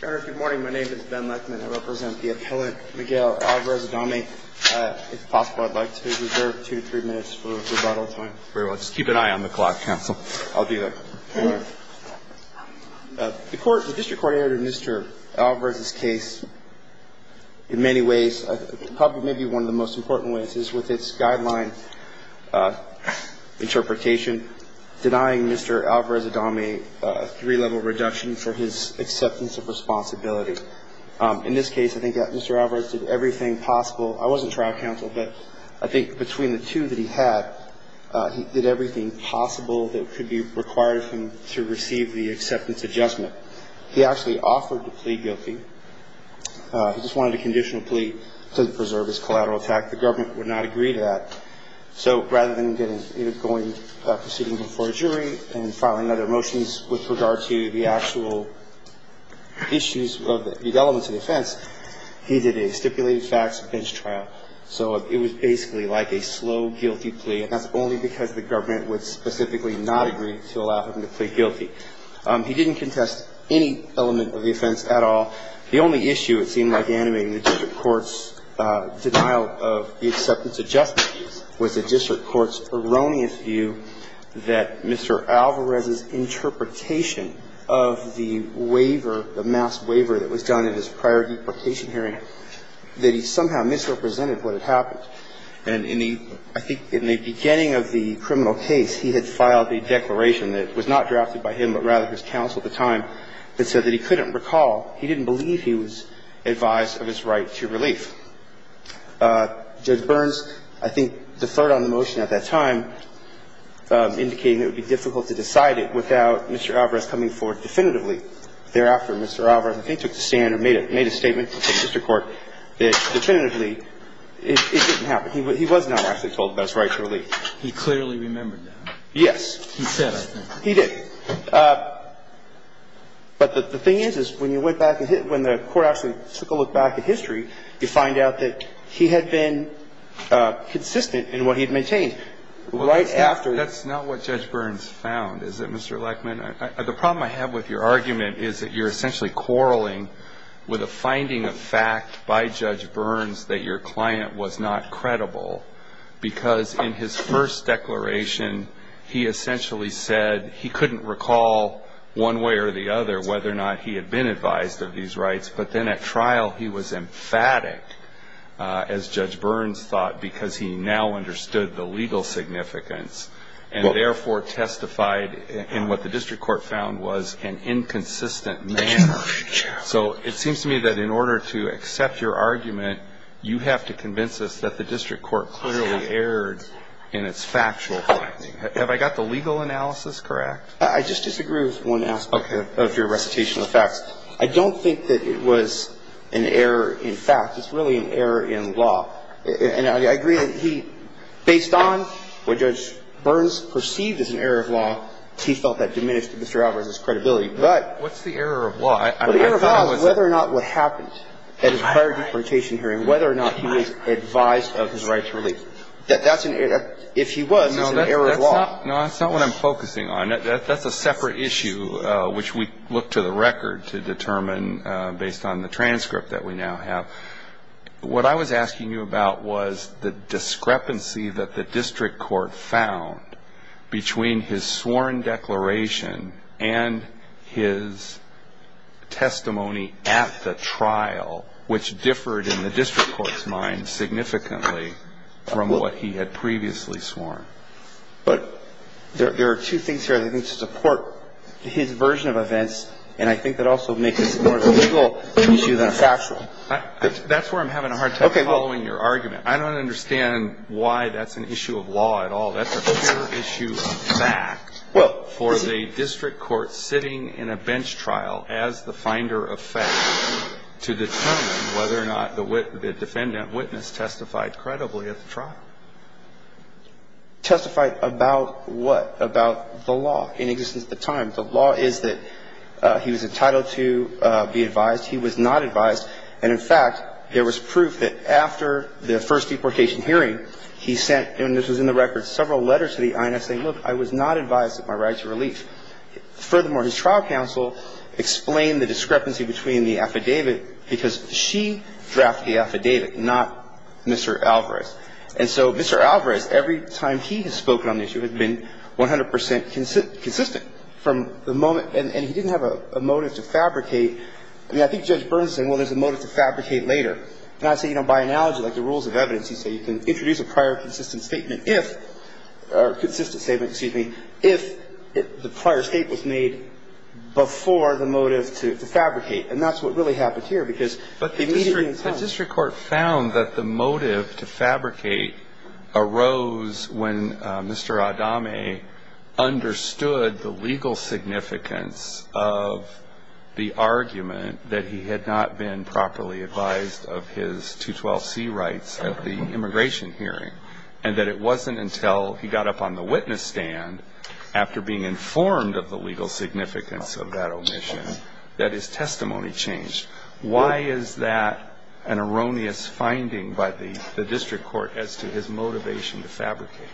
Good morning, my name is Ben Lechman. I represent the appellant Miguel Alvarez-Adame. If possible, I'd like to reserve two to three minutes for rebuttal time. Very well. Just keep an eye on the clock, counsel. I'll do that. The court, the district court, in Mr. Alvarez's case, in many ways, probably maybe one of the most important ways, is with its guideline interpretation denying Mr. Alvarez-Adame a three-level reduction for his acceptance of responsibility. In this case, I think that Mr. Alvarez did everything possible. I wasn't trial counsel, but I think between the two that he had, he did everything possible that could be required of him to receive the acceptance adjustment. He actually offered to plead guilty. He just wanted a conditional plea to preserve his collateral attack. The government would not agree to that. So rather than proceeding before a jury and filing other motions with regard to the actual issues of the elements of the offense, he did a stipulated facts bench trial. So it was basically like a slow, guilty plea, and that's only because the government would specifically not agree to allow him to plead guilty. He didn't contest any element of the offense at all. The only issue, it seemed like, animating the district court's denial of the acceptance adjustment was the district court's erroneous view that Mr. Alvarez's interpretation of the waiver, the mass waiver that was done in his prior deportation hearing, that he somehow misrepresented what had happened. And I think in the beginning of the criminal case, he had filed a declaration that was not drafted by him, but rather his counsel at the time, that said that he couldn't recall, he didn't believe he was advised of his right to relief. Judge Burns, I think, deferred on the motion at that time, indicating it would be difficult to decide it without Mr. Alvarez coming forward definitively. Thereafter, Mr. Alvarez, I think, took the stand and made a statement to the district court that definitively, it didn't happen. He was not actually told about his right to relief. He clearly remembered that. Yes. He said, I think. He did. But the thing is, when you went back and hit the court actually took a look back at history, you find out that he had been consistent in what he had maintained right after. That's not what Judge Burns found, is it, Mr. Lachman? The problem I have with your argument is that you're essentially quarreling with a finding of fact by Judge Burns that your client was not credible because in his first declaration he essentially said he couldn't recall one way or the other whether or not he had been advised of these rights. But then at trial he was emphatic, as Judge Burns thought, because he now understood the legal significance and therefore testified in what the district court found was an inconsistent manner. So it seems to me that in order to accept your argument, you have to convince us that the district court clearly erred in its factual finding. Have I got the legal analysis correct? I just disagree with one aspect of your recitation of facts. I don't think that it was an error in fact. It's really an error in law. And I agree that he, based on what Judge Burns perceived as an error of law, he felt that diminished Mr. Alvarez's credibility. But the error of law is whether or not what happened at his prior deportation hearing, whether or not he was advised of his right to release. If he was, it's an error of law. No, that's not what I'm focusing on. That's a separate issue which we look to the record to determine based on the transcript that we now have. What I was asking you about was the discrepancy that the district court found between his sworn declaration and his testimony at the trial, which differed in the district court's mind significantly from what he had previously sworn. But there are two things here I think to support his version of events, and I think that also makes this more of a legal issue than a factual. That's where I'm having a hard time following your argument. I don't understand why that's an issue of law at all. That's a pure issue of fact for the district court sitting in a bench trial as the finder of facts to determine whether or not the defendant witnessed, testified credibly at the trial. Testified about what? About the law in existence at the time. The law is that he was entitled to be advised. He was not advised. And, in fact, there was proof that after the first deportation hearing, he sent, and this was in the record, several letters to the INS saying, look, I was not advised of my right to release. And so he was not advised of his right to release. He's not advised of his right to release. Furthermore, his trial counsel explained the discrepancy between the affidavit, because she drafted the affidavit, not Mr. Alvarez. And so Mr. Alvarez, every time he has spoken on this, he has been 100 percent consistent from the moment – and he didn't have a motive to fabricate. I mean, I think Judge Burns is saying, well, there's a motive to fabricate later. And I say, you know, by analogy, like the rules of evidence, you say you can introduce a prior consistent statement if – or consistent statement, excuse me – if the prior statement was made before the motive to fabricate. And that's what really happened here, because immediately in time – But the district court found that the motive to fabricate arose when Mr. Adame understood the legal significance of the argument that he had not been properly advised of his 212C rights at the immigration hearing, and that it wasn't until he got up on the witness stand, after being informed of the legal significance of that omission, that his testimony changed. Why is that an erroneous finding by the district court as to his motivation to fabricate?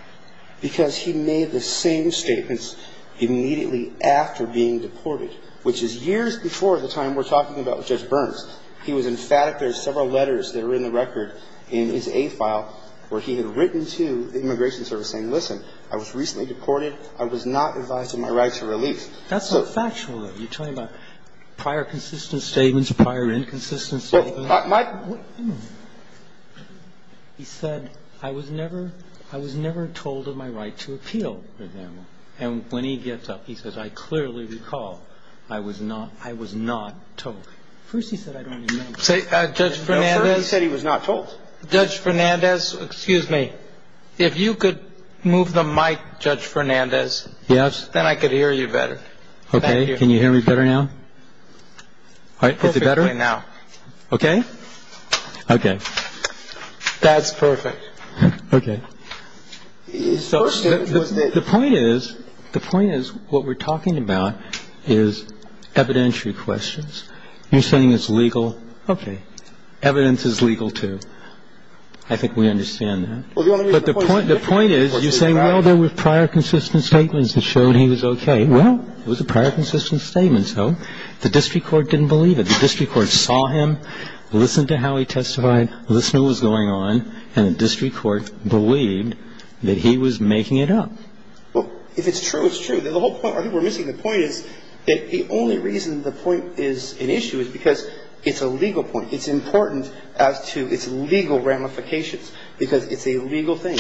Because he made the same statements immediately after being deported, which is years before the time we're talking about with Judge Burns. He was emphatic. There's several letters that are in the record in his A file where he had written to the Immigration Service saying, listen, I was recently deported. I was not advised of my rights of release. That's not factual, though. You're talking about prior consistent statements, prior inconsistent statements. He said, I was never told of my right to appeal. And when he gets up, he says, I clearly recall I was not told. At first he said I don't remember. At first he said he was not told. Judge Fernandez, excuse me. If you could move the mic, Judge Fernandez. Yes. Then I could hear you better. Okay. Can you hear me better now? Perfectly now. Okay? Okay. That's perfect. Okay. The point is, the point is what we're talking about is evidentiary questions. You're saying it's legal. Okay. Evidence is legal, too. I think we understand that. But the point is you're saying, well, there were prior consistent statements that showed he was okay. Well, it was a prior consistent statement, so the district court didn't believe it. The district court saw him, listened to how he testified, listened to what was going on, and the district court believed that he was making it up. Well, if it's true, it's true. The whole point, I think we're missing the point, is that the only reason the point is an issue is because it's a legal point. It's important as to its legal ramifications because it's a legal thing.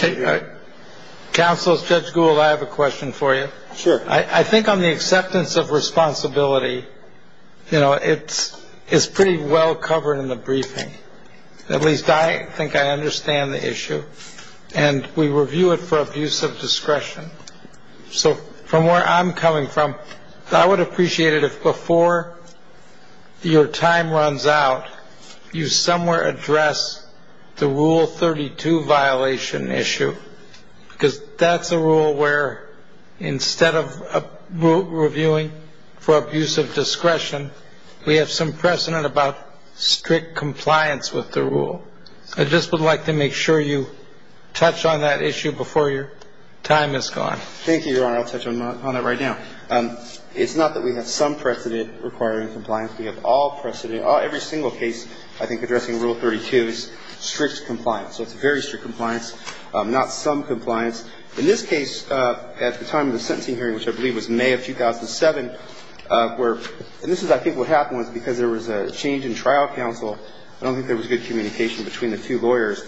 Counsel, Judge Gould, I have a question for you. Sure. I think on the acceptance of responsibility, you know, it's pretty well covered in the briefing. At least I think I understand the issue, and we review it for abuse of discretion. So from where I'm coming from, I would appreciate it if before your time runs out, you somewhere address the Rule 32 violation issue because that's a rule where instead of reviewing for abuse of discretion, we have some precedent about strict compliance with the rule. I just would like to make sure you touch on that issue before your time is gone. Thank you, Your Honor. I'll touch on that right now. It's not that we have some precedent requiring compliance. We have all precedent, every single case, I think, addressing Rule 32 is strict compliance. So it's very strict compliance, not some compliance. In this case, at the time of the sentencing hearing, which I believe was May of 2007, where, and this is I think what happened was because there was a change in trial counsel, I don't think there was good communication between the two lawyers,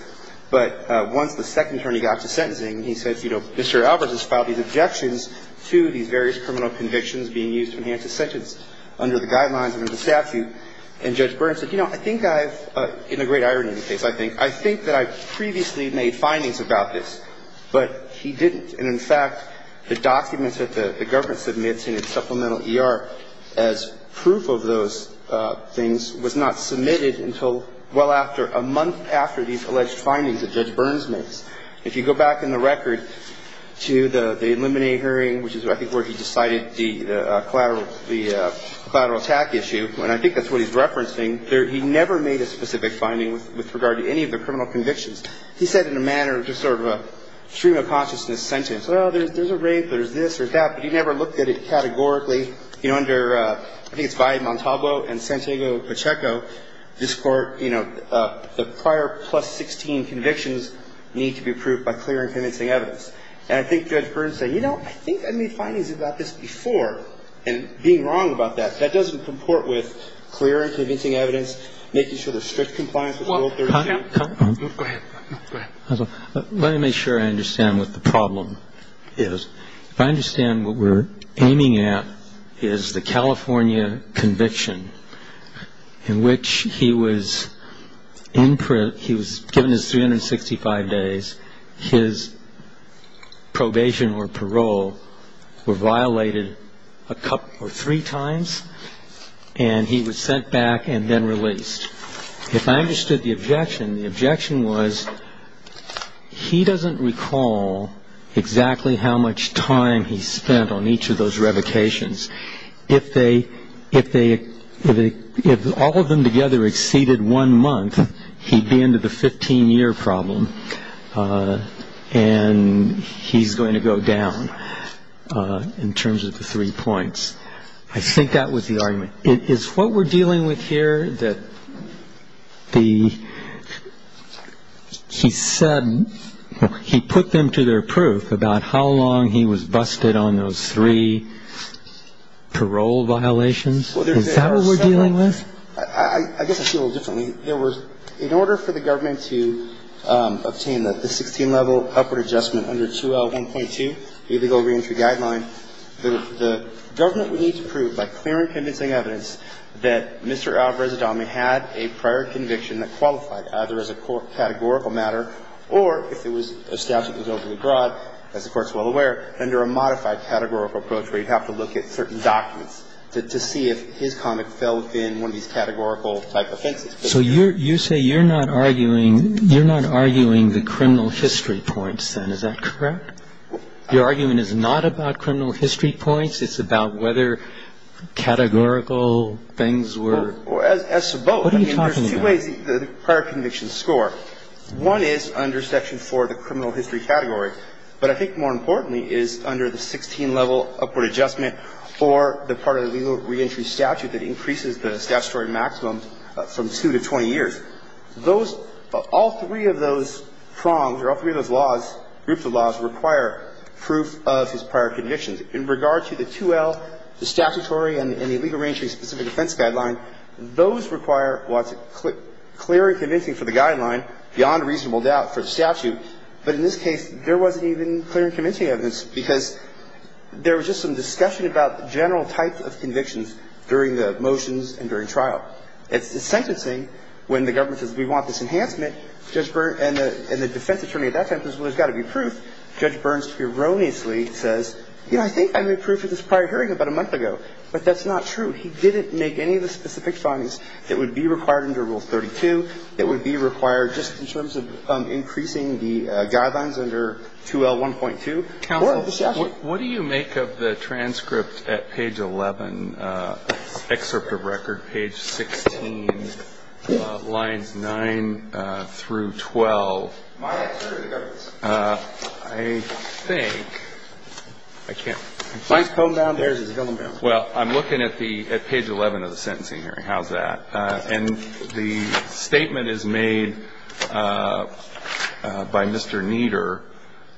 but once the second attorney got to sentencing, he says, you know, Mr. Alvarez has filed these objections to these various criminal convictions being used to enhance his sentence under the guidelines and under the statute. And Judge Burns said, you know, I think I've, in a great irony of the case, I think, I think that I previously made findings about this, but he didn't. And in fact, the documents that the government submits in its supplemental ER as proof of those things was not submitted until well after, a month after these alleged findings that Judge Burns makes. And if you go back in the record to the Illuminate hearing, which is I think where he decided the collateral, the collateral attack issue, and I think that's what he's referencing, he never made a specific finding with regard to any of the criminal convictions. He said in a manner of just sort of a stream of consciousness sentence, well, there's a rape, there's this or that, but he never looked at it categorically. You know, under, I think it's Valle Montalvo and Santiago Pacheco, this Court, you know, the prior plus 16 convictions need to be approved by clear and convincing evidence. And I think Judge Burns said, you know, I think I made findings about this before. And being wrong about that, that doesn't comport with clear and convincing evidence, making sure there's strict compliance with Rule 32. Go ahead. Let me make sure I understand what the problem is. If I understand what we're aiming at is the California conviction in which he was in print, he was given his 365 days. His probation or parole were violated a couple or three times, and he was sent back and then released. If I understood the objection, the objection was he doesn't recall exactly how much time he spent on each of those revocations. If all of them together exceeded one month, he'd be into the 15-year problem, and he's going to go down in terms of the three points. I think that was the argument. Is what we're dealing with here that the he said he put them to their proof about how long he was busted on those three parole violations? Is that what we're dealing with? I guess I see it a little differently. In order for the government to obtain the 16-level upward adjustment under 2L1.2, the illegal reentry guideline, the government would need to prove by clear and convincing evidence that Mr. Alvarez-Adame had a prior conviction that qualified either as a categorical matter or if it was established it was overly broad, as the Court's well aware, under a modified categorical approach where you'd have to look at certain documents to see if his conduct fell within one of these categorical type offenses. So you say you're not arguing the criminal history points, then. Is that correct? Your argument is not about criminal history points. It's about whether categorical things were? As to both. What are you talking about? I mean, there's two ways the prior convictions score. One is under Section 4, the criminal history category. But I think more importantly is under the 16-level upward adjustment or the part of the legal reentry statute that increases the statutory maximum from 2 to 20 years. All three of those prongs or all three of those laws, groups of laws, require proof of his prior convictions. In regard to the 2L, the statutory and the illegal reentry specific defense guideline, those require what's clear and convincing for the guideline beyond reasonable doubt for the statute. But in this case, there wasn't even clear and convincing evidence because there was just some discussion about the general type of convictions during the motions and during trial. It's the sentencing when the government says we want this enhancement, Judge Burns and the defense attorney at that time says, well, there's got to be proof. Judge Burns erroneously says, you know, I think I made proof at this prior hearing about a month ago. But that's not true. He didn't make any of the specific findings that would be required under Rule 32, that would be required just in terms of increasing the guidelines under 2L1.2 or the statute. What do you make of the transcript at page 11, excerpt of record, page 16, lines 9 through 12? My excerpt of the government's. I think. I can't. He's combed down. Well, I'm looking at page 11 of the sentencing here. How's that? And the statement is made by Mr. Nieder.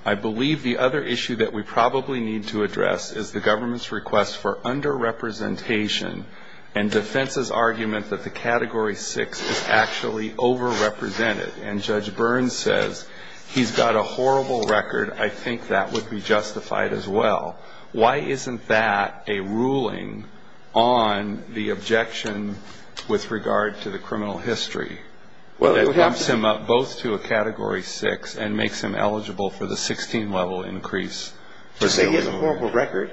I believe the other issue that we probably need to address is the government's request for underrepresentation and defense's argument that the Category 6 is actually overrepresented. And Judge Burns says he's got a horrible record. I think that would be justified as well. Why isn't that a ruling on the objection with regard to the criminal history? Well, it helps him up both to a Category 6 and makes him eligible for the 16-level increase. Just say he has a horrible record.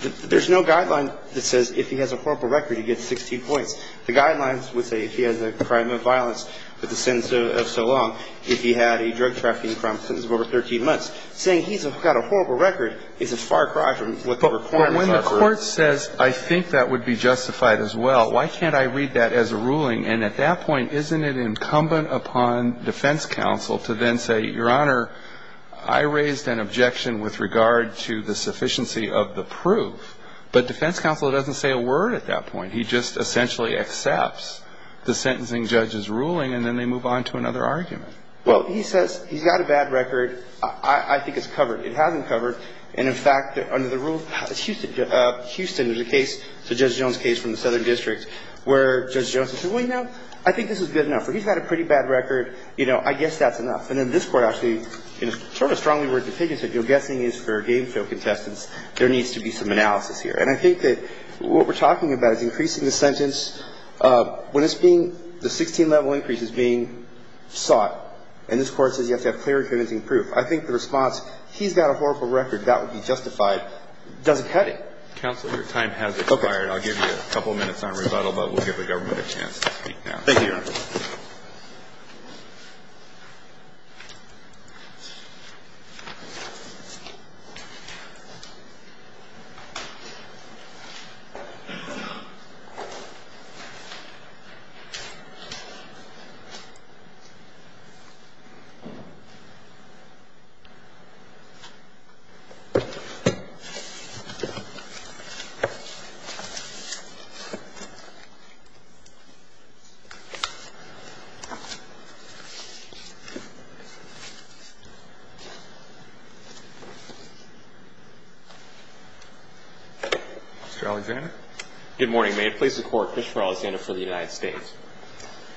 There's no guideline that says if he has a horrible record, he gets 16 points. The guidelines would say if he has a crime of violence with a sentence of so long, if he had a drug trafficking crime, a sentence of over 13 months. Saying he's got a horrible record is as far across from what the report is. But when the Court says, I think that would be justified as well, why can't I read that as a ruling? And at that point, isn't it incumbent upon defense counsel to then say, Your Honor, I raised an objection with regard to the sufficiency of the proof. But defense counsel doesn't say a word at that point. He just essentially accepts the sentencing judge's ruling, and then they move on to another argument. Well, he says he's got a bad record. I think it's covered. It hasn't covered. And, in fact, under the rule of Houston, there's a case, Judge Jones' case from the Southern District, where Judge Jones says, well, you know, I think this is good enough. He's got a pretty bad record. You know, I guess that's enough. And then this Court actually sort of strongly words the pig and said, you know, guessing is for game show contestants. There needs to be some analysis here. And I think that what we're talking about is increasing the sentence when it's being the 16-level increase is being sought. And this Court says you have to have clear and convincing proof. I think the response, he's got a horrible record, that would be justified, doesn't cut it. Counsel, your time has expired. I'll give you a couple minutes on rebuttal, but we'll give the government a chance to speak now. Mr. Alexander? Good morning. May it please the Court, Christopher Alexander for the United States.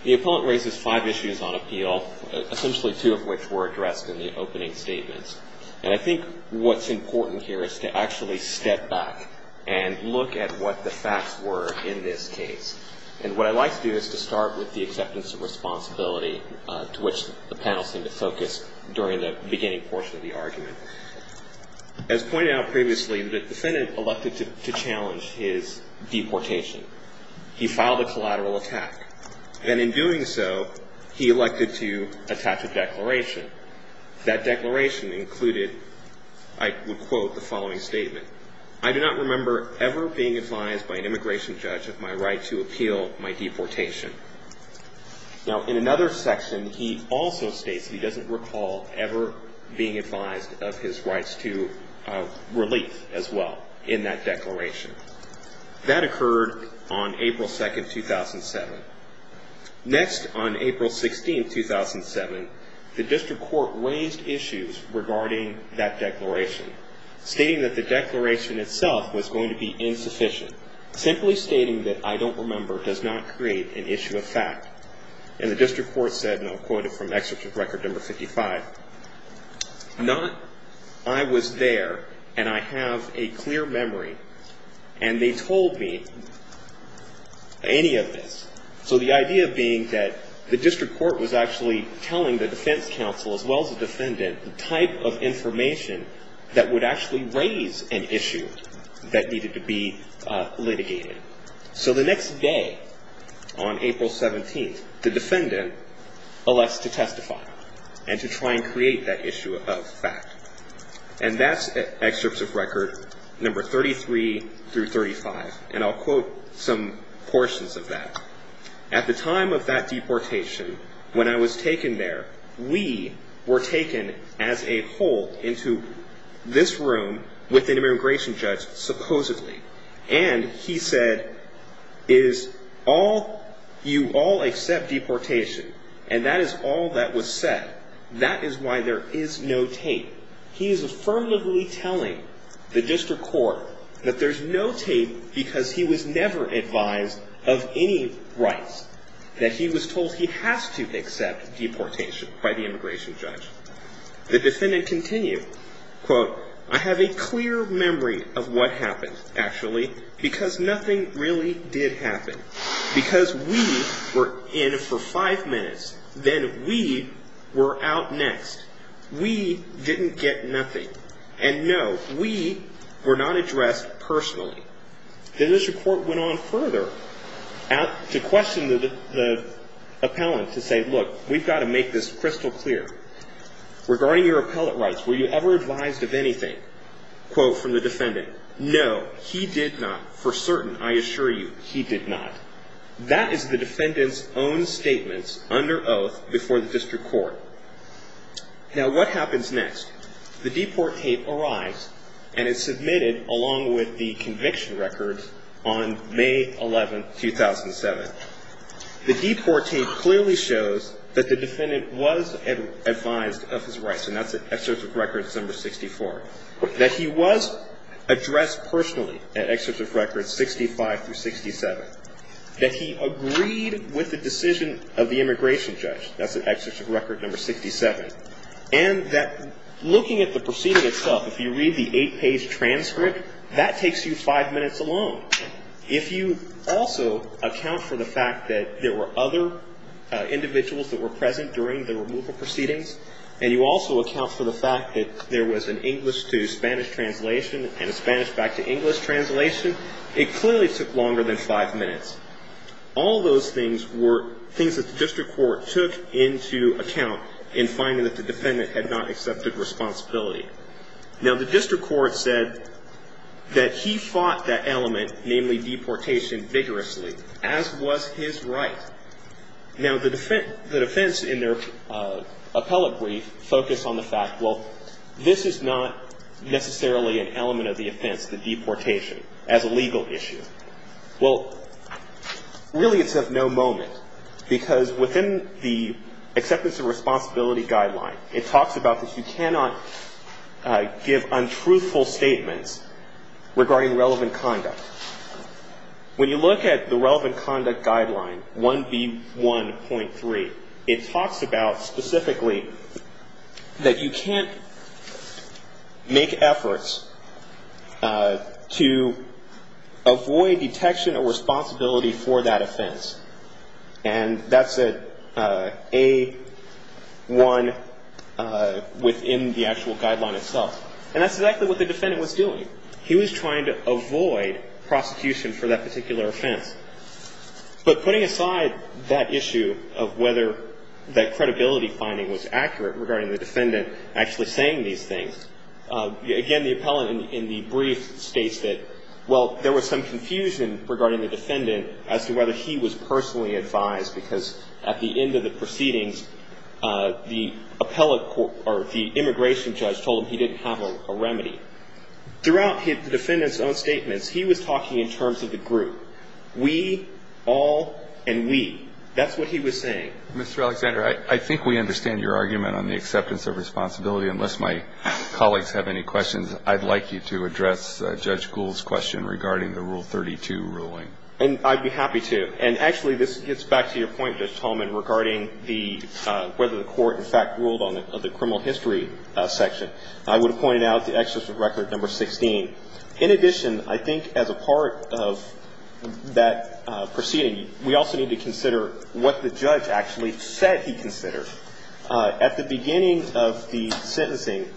The appellant raises five issues on appeal, essentially two of which were addressed in the opening statements. And I think what's important here is to actually step back and look at what the facts were in this case. And what I'd like to do is to start with the acceptance of responsibility, to which the panel seemed to focus during the beginning portion of the argument. As pointed out previously, the defendant elected to challenge his deportation. He filed a collateral attack. That declaration included, I would quote the following statement, I do not remember ever being advised by an immigration judge of my right to appeal my deportation. Now, in another section, he also states he doesn't recall ever being advised of his rights to relief as well in that declaration. That occurred on April 2, 2007. Next, on April 16, 2007, the district court raised issues regarding that declaration, stating that the declaration itself was going to be insufficient, simply stating that I don't remember does not create an issue of fact. And the district court said, and I'll quote it from excerpt from record number 55, not I was there and I have a clear memory and they told me any of this. So the idea being that the district court was actually telling the defense counsel as well as the defendant the type of information that would actually raise an issue that needed to be litigated. So the next day, on April 17, the defendant elects to testify and to try and create that issue of fact. And that's excerpts of record number 33 through 35. And I'll quote some portions of that. At the time of that deportation, when I was taken there, we were taken as a whole into this room with an immigration judge supposedly. And he said, is all, you all accept deportation? And that is all that was said. That is why there is no tape. He is affirmatively telling the district court that there's no tape because he was never advised of any rights. That he was told he has to accept deportation by the immigration judge. The defendant continued, quote, I have a clear memory of what happened, actually, because nothing really did happen. Because we were in for five minutes, then we were out next. We didn't get nothing. And no, we were not addressed personally. Then the district court went on further to question the appellant to say, look, we've got to make this crystal clear. Regarding your appellate rights, were you ever advised of anything? Quote from the defendant, no, he did not. For certain, I assure you, he did not. That is the defendant's own statements under oath before the district court. Now, what happens next? The deport tape arrives, and it's submitted along with the conviction record on May 11, 2007. The deport tape clearly shows that the defendant was advised of his rights. And that's at Excerpt of Record number 64. That he was addressed personally at Excerpt of Record 65 through 67. That he agreed with the decision of the immigration judge. That's at Excerpt of Record number 67. And that looking at the proceeding itself, if you read the eight-page transcript, that takes you five minutes alone. If you also account for the fact that there were other individuals that were present during the removal proceedings, and you also account for the fact that there was an English to Spanish translation and a Spanish back to English translation, it clearly took longer than five minutes. All those things were things that the district court took into account in finding that the defendant had not accepted responsibility. Now, the district court said that he fought that element, namely deportation, vigorously, as was his right. Now, the defense in their appellate brief focused on the fact, well, this is not necessarily an element of the offense, the deportation, as a legal issue. Well, really it's of no moment, because within the acceptance of responsibility guideline, it talks about that you cannot give untruthful statements regarding relevant conduct. When you look at the relevant conduct guideline, 1B1.3, it talks about specifically that you can't make efforts to avoid detection or responsibility for that offense. And that's A1 within the actual guideline itself. And that's exactly what the defendant was doing. He was trying to avoid prosecution for that particular offense. But putting aside that issue of whether that credibility finding was accurate regarding the defendant actually saying these things, again, the appellate in the brief states that, well, there was some confusion regarding the defendant as to whether he was personally advised, because at the end of the proceedings, the appellate court or the immigration judge told him he didn't have a remedy. Throughout the defendant's own statements, he was talking in terms of the group. We, all, and we. That's what he was saying. Mr. Alexander, I think we understand your argument on the acceptance of responsibility. Unless my colleagues have any questions, I'd like you to address Judge Gould's question regarding the Rule 32 ruling. And I'd be happy to. And, actually, this gets back to your point, Judge Tallman, regarding whether the court, in fact, ruled on the criminal history section. I would have pointed out the Excessive Record No. 16. In addition, I think, as a part of that proceeding, we also need to consider what the judge actually said he considered. At the beginning of the sentencing,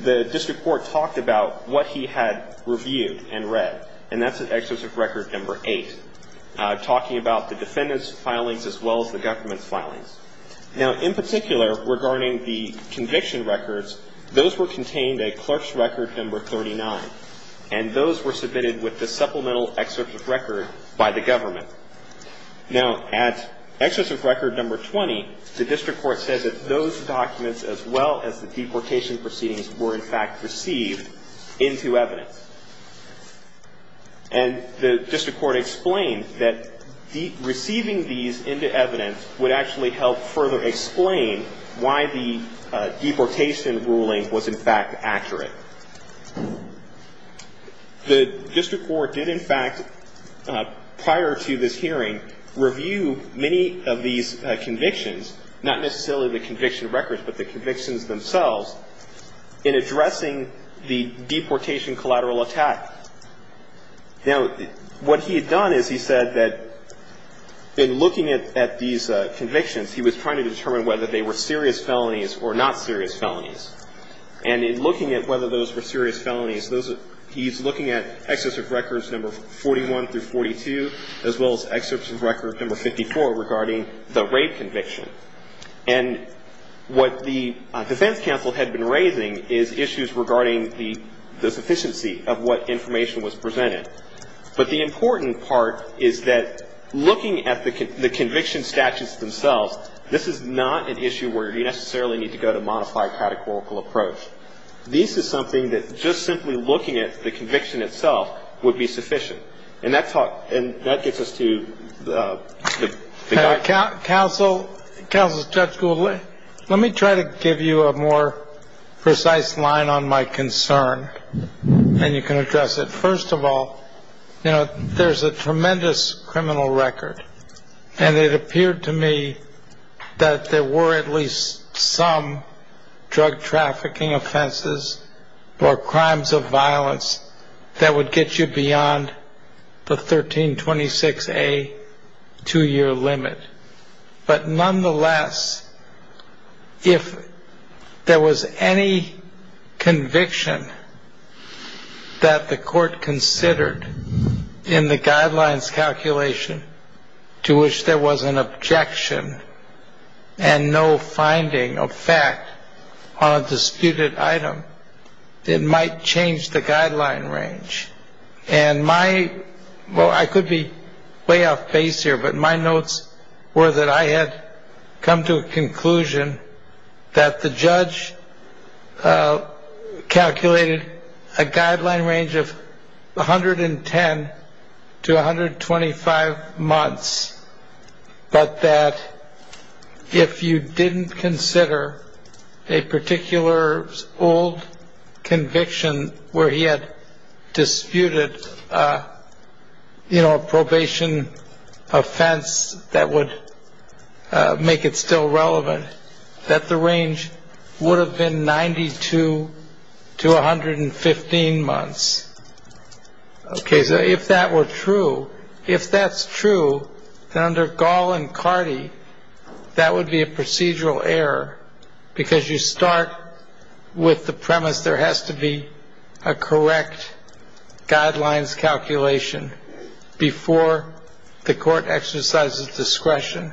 the district court talked about what he had reviewed and read, and that's Excessive Record No. 8, talking about the defendant's filings as well as the government's filings. Now, in particular, regarding the conviction records, those were contained at Clerk's Record No. 39, and those were submitted with the supplemental Excessive Record by the government. Now, at Excessive Record No. 20, the district court says that those documents, as well as the deportation proceedings, were, in fact, received into evidence. And the district court explained that receiving these into evidence would actually help further explain why the deportation ruling was, in fact, accurate. The district court did, in fact, prior to this hearing, review many of these convictions, not necessarily the conviction records, but the convictions themselves, in addressing the deportation collateral attack. Now, what he had done is he said that in looking at these convictions, he was trying to determine whether they were serious felonies or not serious felonies. And in looking at whether those were serious felonies, those are he's looking at Excessive Records No. 41 through 42, as well as Excessive Record No. 54 regarding the rape conviction. And what the defense counsel had been raising is issues regarding the sufficiency of what information was presented. But the important part is that looking at the conviction statutes themselves, this is not an issue where you necessarily need to go to a modified catechorical approach. This is something that just simply looking at the conviction itself would be sufficient. And that gets us to the guidance. Counsel Judge Gould, let me try to give you a more precise line on my concern. And you can address it. First of all, you know, there's a tremendous criminal record. And it appeared to me that there were at least some drug trafficking offenses or crimes of violence that would get you beyond the 1326A two-year limit. But nonetheless, if there was any conviction that the court considered in the guidelines calculation to which there was an objection and no finding of fact on a disputed item, it might change the guideline range. And my, well, I could be way off base here, but my notes were that I had come to a conclusion that the judge calculated a guideline range of 110 to 125 months, but that if you didn't consider a particular old conviction where he had disputed, you know, that the range would have been 92 to 115 months. Okay. So if that were true, if that's true, then under Gall and Cardi, that would be a procedural error, because you start with the premise there has to be a correct guidelines calculation before the court exercises discretion.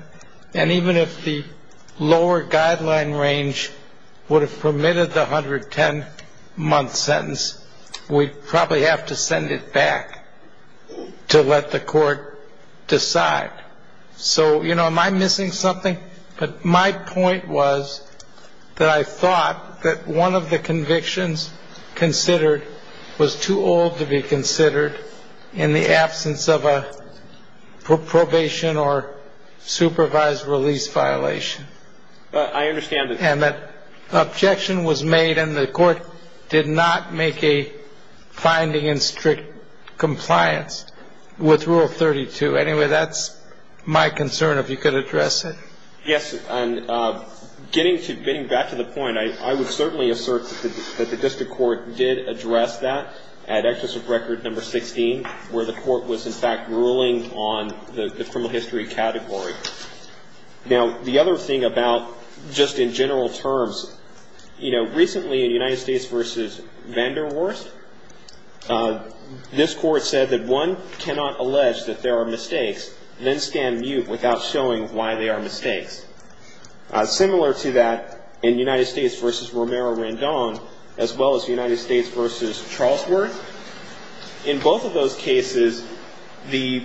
And even if the lower guideline range would have permitted the 110-month sentence, we'd probably have to send it back to let the court decide. So, you know, am I missing something? But my point was that I thought that one of the convictions considered was too old to be considered in the absence of a probation or supervised release violation. I understand that. And that objection was made and the court did not make a finding in strict compliance with Rule 32. Anyway, that's my concern, if you could address it. Yes. And getting back to the point, I would certainly assert that the district court did address that at Excessive Record No. 16, where the court was, in fact, ruling on the criminal history category. Now, the other thing about just in general terms, you know, recently in United States v. Vanderwerst, this court said that one cannot allege that there are mistakes, then stand mute without showing why they are mistakes. Similar to that in United States v. Romero-Randone, as well as United States v. Charlesworth, in both of those cases, the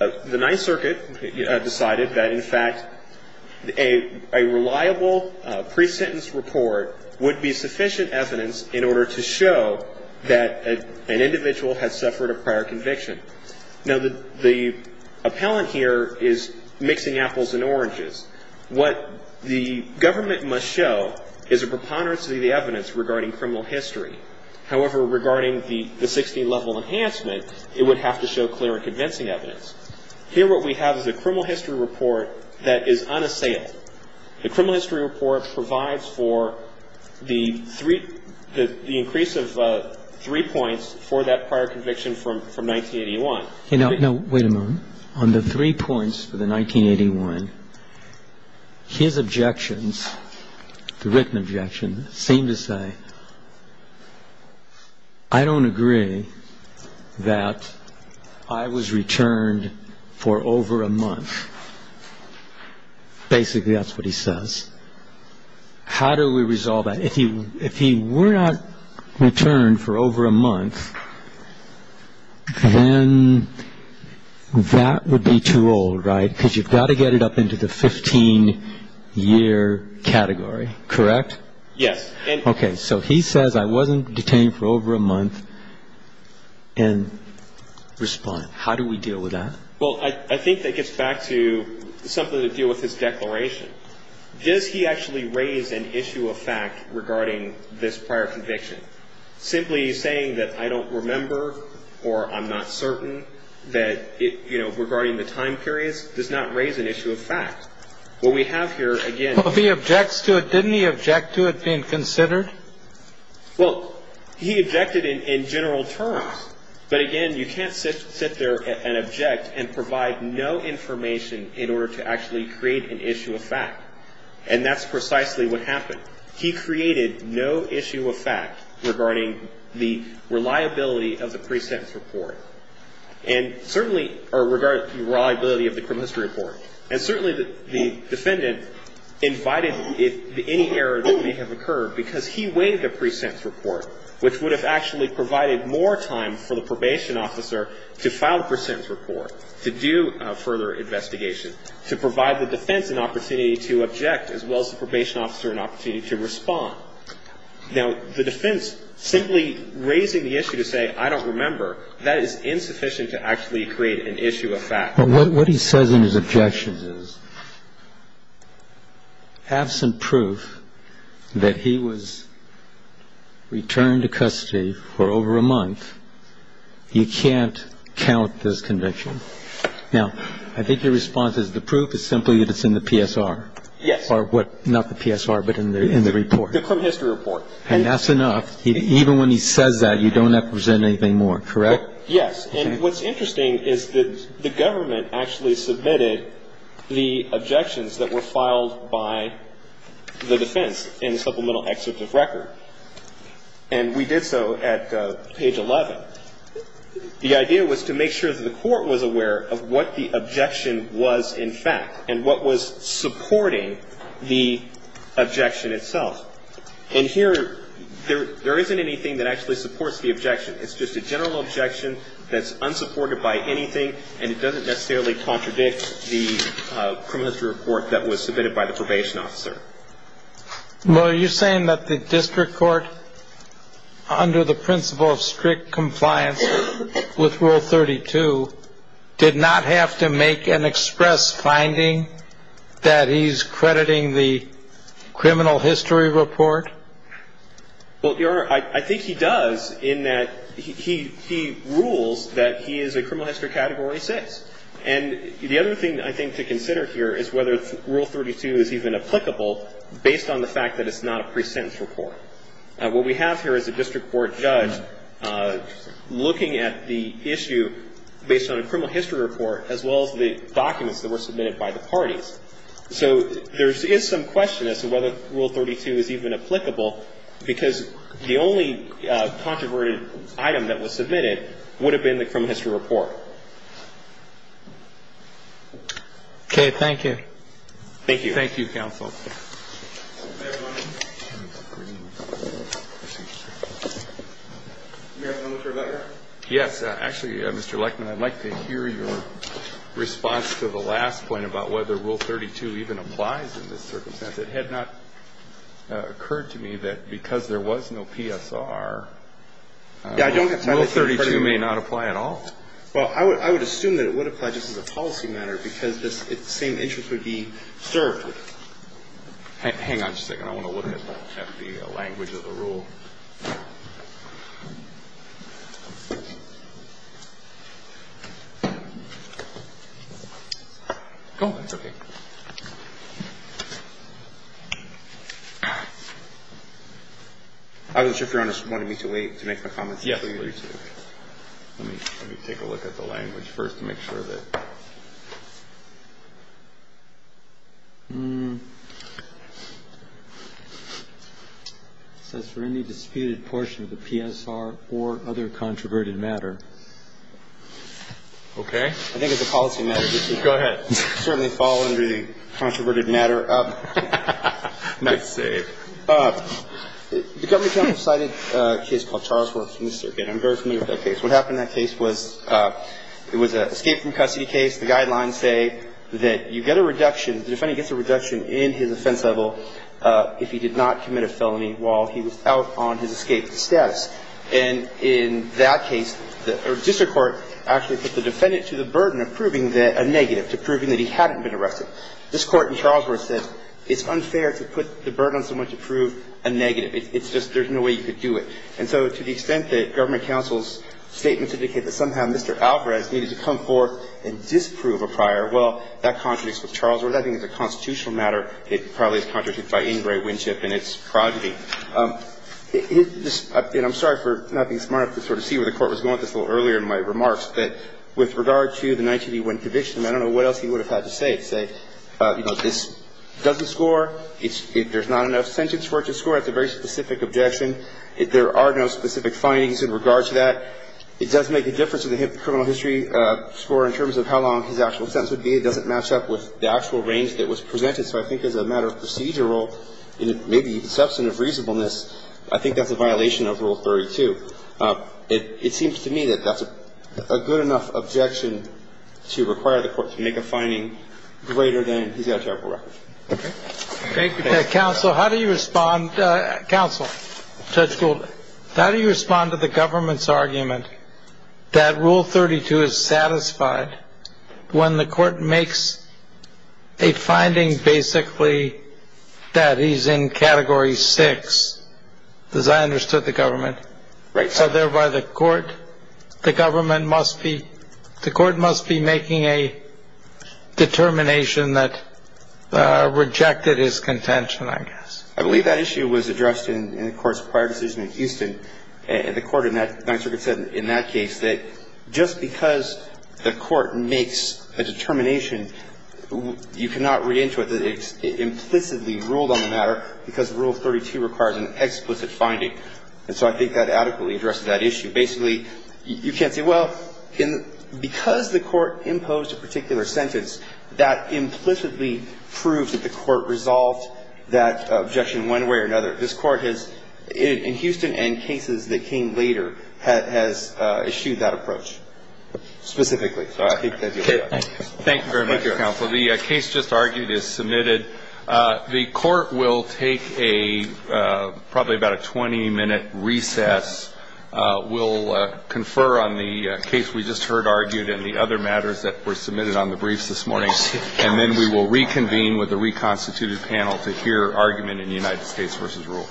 Ninth Circuit decided that, in fact, a reliable pre-sentence report would be sufficient evidence in order to show that an individual had suffered a prior conviction. Now, the appellant here is mixing apples and oranges. What the government must show is a preponderance of the evidence regarding criminal history. However, regarding the 16-level enhancement, it would have to show clear and convincing evidence. Here what we have is a criminal history report that is unassailed. The criminal history report provides for the increase of three points for that prior conviction from 1981. Now, wait a moment. On the three points for the 1981, his objections, the written objections, seem to say, I don't agree that I was returned for over a month. Basically, that's what he says. How do we resolve that? If he were not returned for over a month, then that would be too old, right, because you've got to get it up into the 15-year category, correct? Yes. Okay. So he says, I wasn't detained for over a month, and respond. How do we deal with that? Well, I think that gets back to something to do with his declaration. Does he actually raise an issue of fact regarding this prior conviction? Simply saying that I don't remember or I'm not certain that, you know, regarding the time periods does not raise an issue of fact. What we have here, again. Well, he objects to it. Didn't he object to it being considered? Well, he objected in general terms. But, again, you can't sit there and object and provide no information in order to actually create an issue of fact. And that's precisely what happened. He created no issue of fact regarding the reliability of the pre-sentence report or regarding the reliability of the criminal history report. And certainly the defendant invited any error that may have occurred because he waived the pre-sentence report, which would have actually provided more time for the probation officer to file the pre-sentence report, to do further investigation, to provide the defense an opportunity to object as well as the probation officer an opportunity to respond. Now, the defense simply raising the issue to say I don't remember, that is insufficient to actually create an issue of fact. Well, what he says in his objections is absent proof that he was returned to custody for over a month, you can't count this conviction. Now, I think your response is the proof is simply that it's in the PSR. Yes. Or what, not the PSR, but in the report. The criminal history report. And that's enough. Even when he says that, you don't have to present anything more. Correct? Yes. And what's interesting is that the government actually submitted the objections that were filed by the defense in the supplemental excerpt of record. And we did so at page 11. The idea was to make sure that the Court was aware of what the objection was in fact and what was supporting the objection itself. And here, there isn't anything that actually supports the objection. It's just a general objection that's unsupported by anything and it doesn't necessarily contradict the criminal history report that was submitted by the probation officer. Well, are you saying that the district court, under the principle of strict compliance with Rule 32, did not have to make an express finding that he's crediting the criminal history report? Well, Your Honor, I think he does in that he rules that he is a criminal history category 6. And the other thing I think to consider here is whether Rule 32 is even applicable based on the fact that it's not a pre-sentence report. What we have here is a district court judge looking at the issue based on a criminal history report as well as the documents that were submitted by the parties. So there is some question as to whether Rule 32 is even applicable because the only controverted item that was submitted would have been the criminal history report. Okay. Thank you. Thank you. Thank you, counsel. Yes. Actually, Mr. Lechman, I'd like to hear your response to the last point about whether Rule 32 even applies in this circumstance. It had not occurred to me that because there was no PSR, Rule 32 may not apply at all. Well, I would assume that it would apply just as a policy matter because the same interest Hang on just a second. I want to look at the language of the rule. Oh, that's okay. I was just wondering if you wanted me to wait to make the comments. Yes. Let me take a look at the language first to make sure that. It says for any disputed portion of the PSR or other controverted matter. Okay. I think it's a policy matter. Go ahead. Certainly fall under the controverted matter. Nice save. The government counsel cited a case called Charlesworth from the circuit. I'm very familiar with that case. The government counsel decided that Charlesworth was not eligible for the PSR. And in that case, the district court actually put the defendant to the burden of proving that a negative, to proving that he hadn't been arrested. This Court in Charlesworth says it's unfair to put the burden on someone to prove a negative. It's just there's no way you could do it. And so to the extent that government counsel's statements indicate that somehow Mr. on someone to prove a negative. Well, that contradicts with Charlesworth. I think it's a constitutional matter. It probably is contradicted by Ingray, Winship, and it's progeny. And I'm sorry for not being smart enough to sort of see where the Court was going with this a little earlier in my remarks. But with regard to the 1981 conviction, I don't know what else he would have had to say. Say, you know, this doesn't score. There's not enough sentence for it to score. That's a very specific objection. There are no specific findings in regard to that. It does make a difference in the criminal history score in terms of how long his actual sentence would be. It doesn't match up with the actual range that was presented. So I think as a matter of procedural, maybe even substantive reasonableness, I think that's a violation of Rule 32. It seems to me that that's a good enough objection to require the Court to make a finding greater than he's got a terrible record. Counsel, how do you respond? Counsel, Judge Gould, how do you respond to the government's argument that Rule 32 is satisfied when the court makes a finding, basically, that he's in Category 6? Because I understood the government. Right. So thereby, the court, the government must be — the court must be making a determination that rejected his contention, I guess. I believe that issue was addressed in the Court's prior decision in Houston. And the Court in that — Ninth Circuit said in that case that just because the court makes a determination, you cannot read into it that it implicitly ruled on the matter because Rule 32 requires an explicit finding. And so I think that adequately addressed that issue. Basically, you can't say, well, because the court imposed a particular sentence, that implicitly proves that the court resolved that objection one way or another. This Court has, in Houston and cases that came later, has issued that approach specifically. So I think that's your point. Thank you very much, Counsel. The case just argued is submitted. The Court will take a — probably about a 20-minute recess. We'll confer on the case we just heard argued and the other matters that were submitted on the briefs this morning. And then we will reconvene with the reconstituted panel to hear argument in United States v. Rule.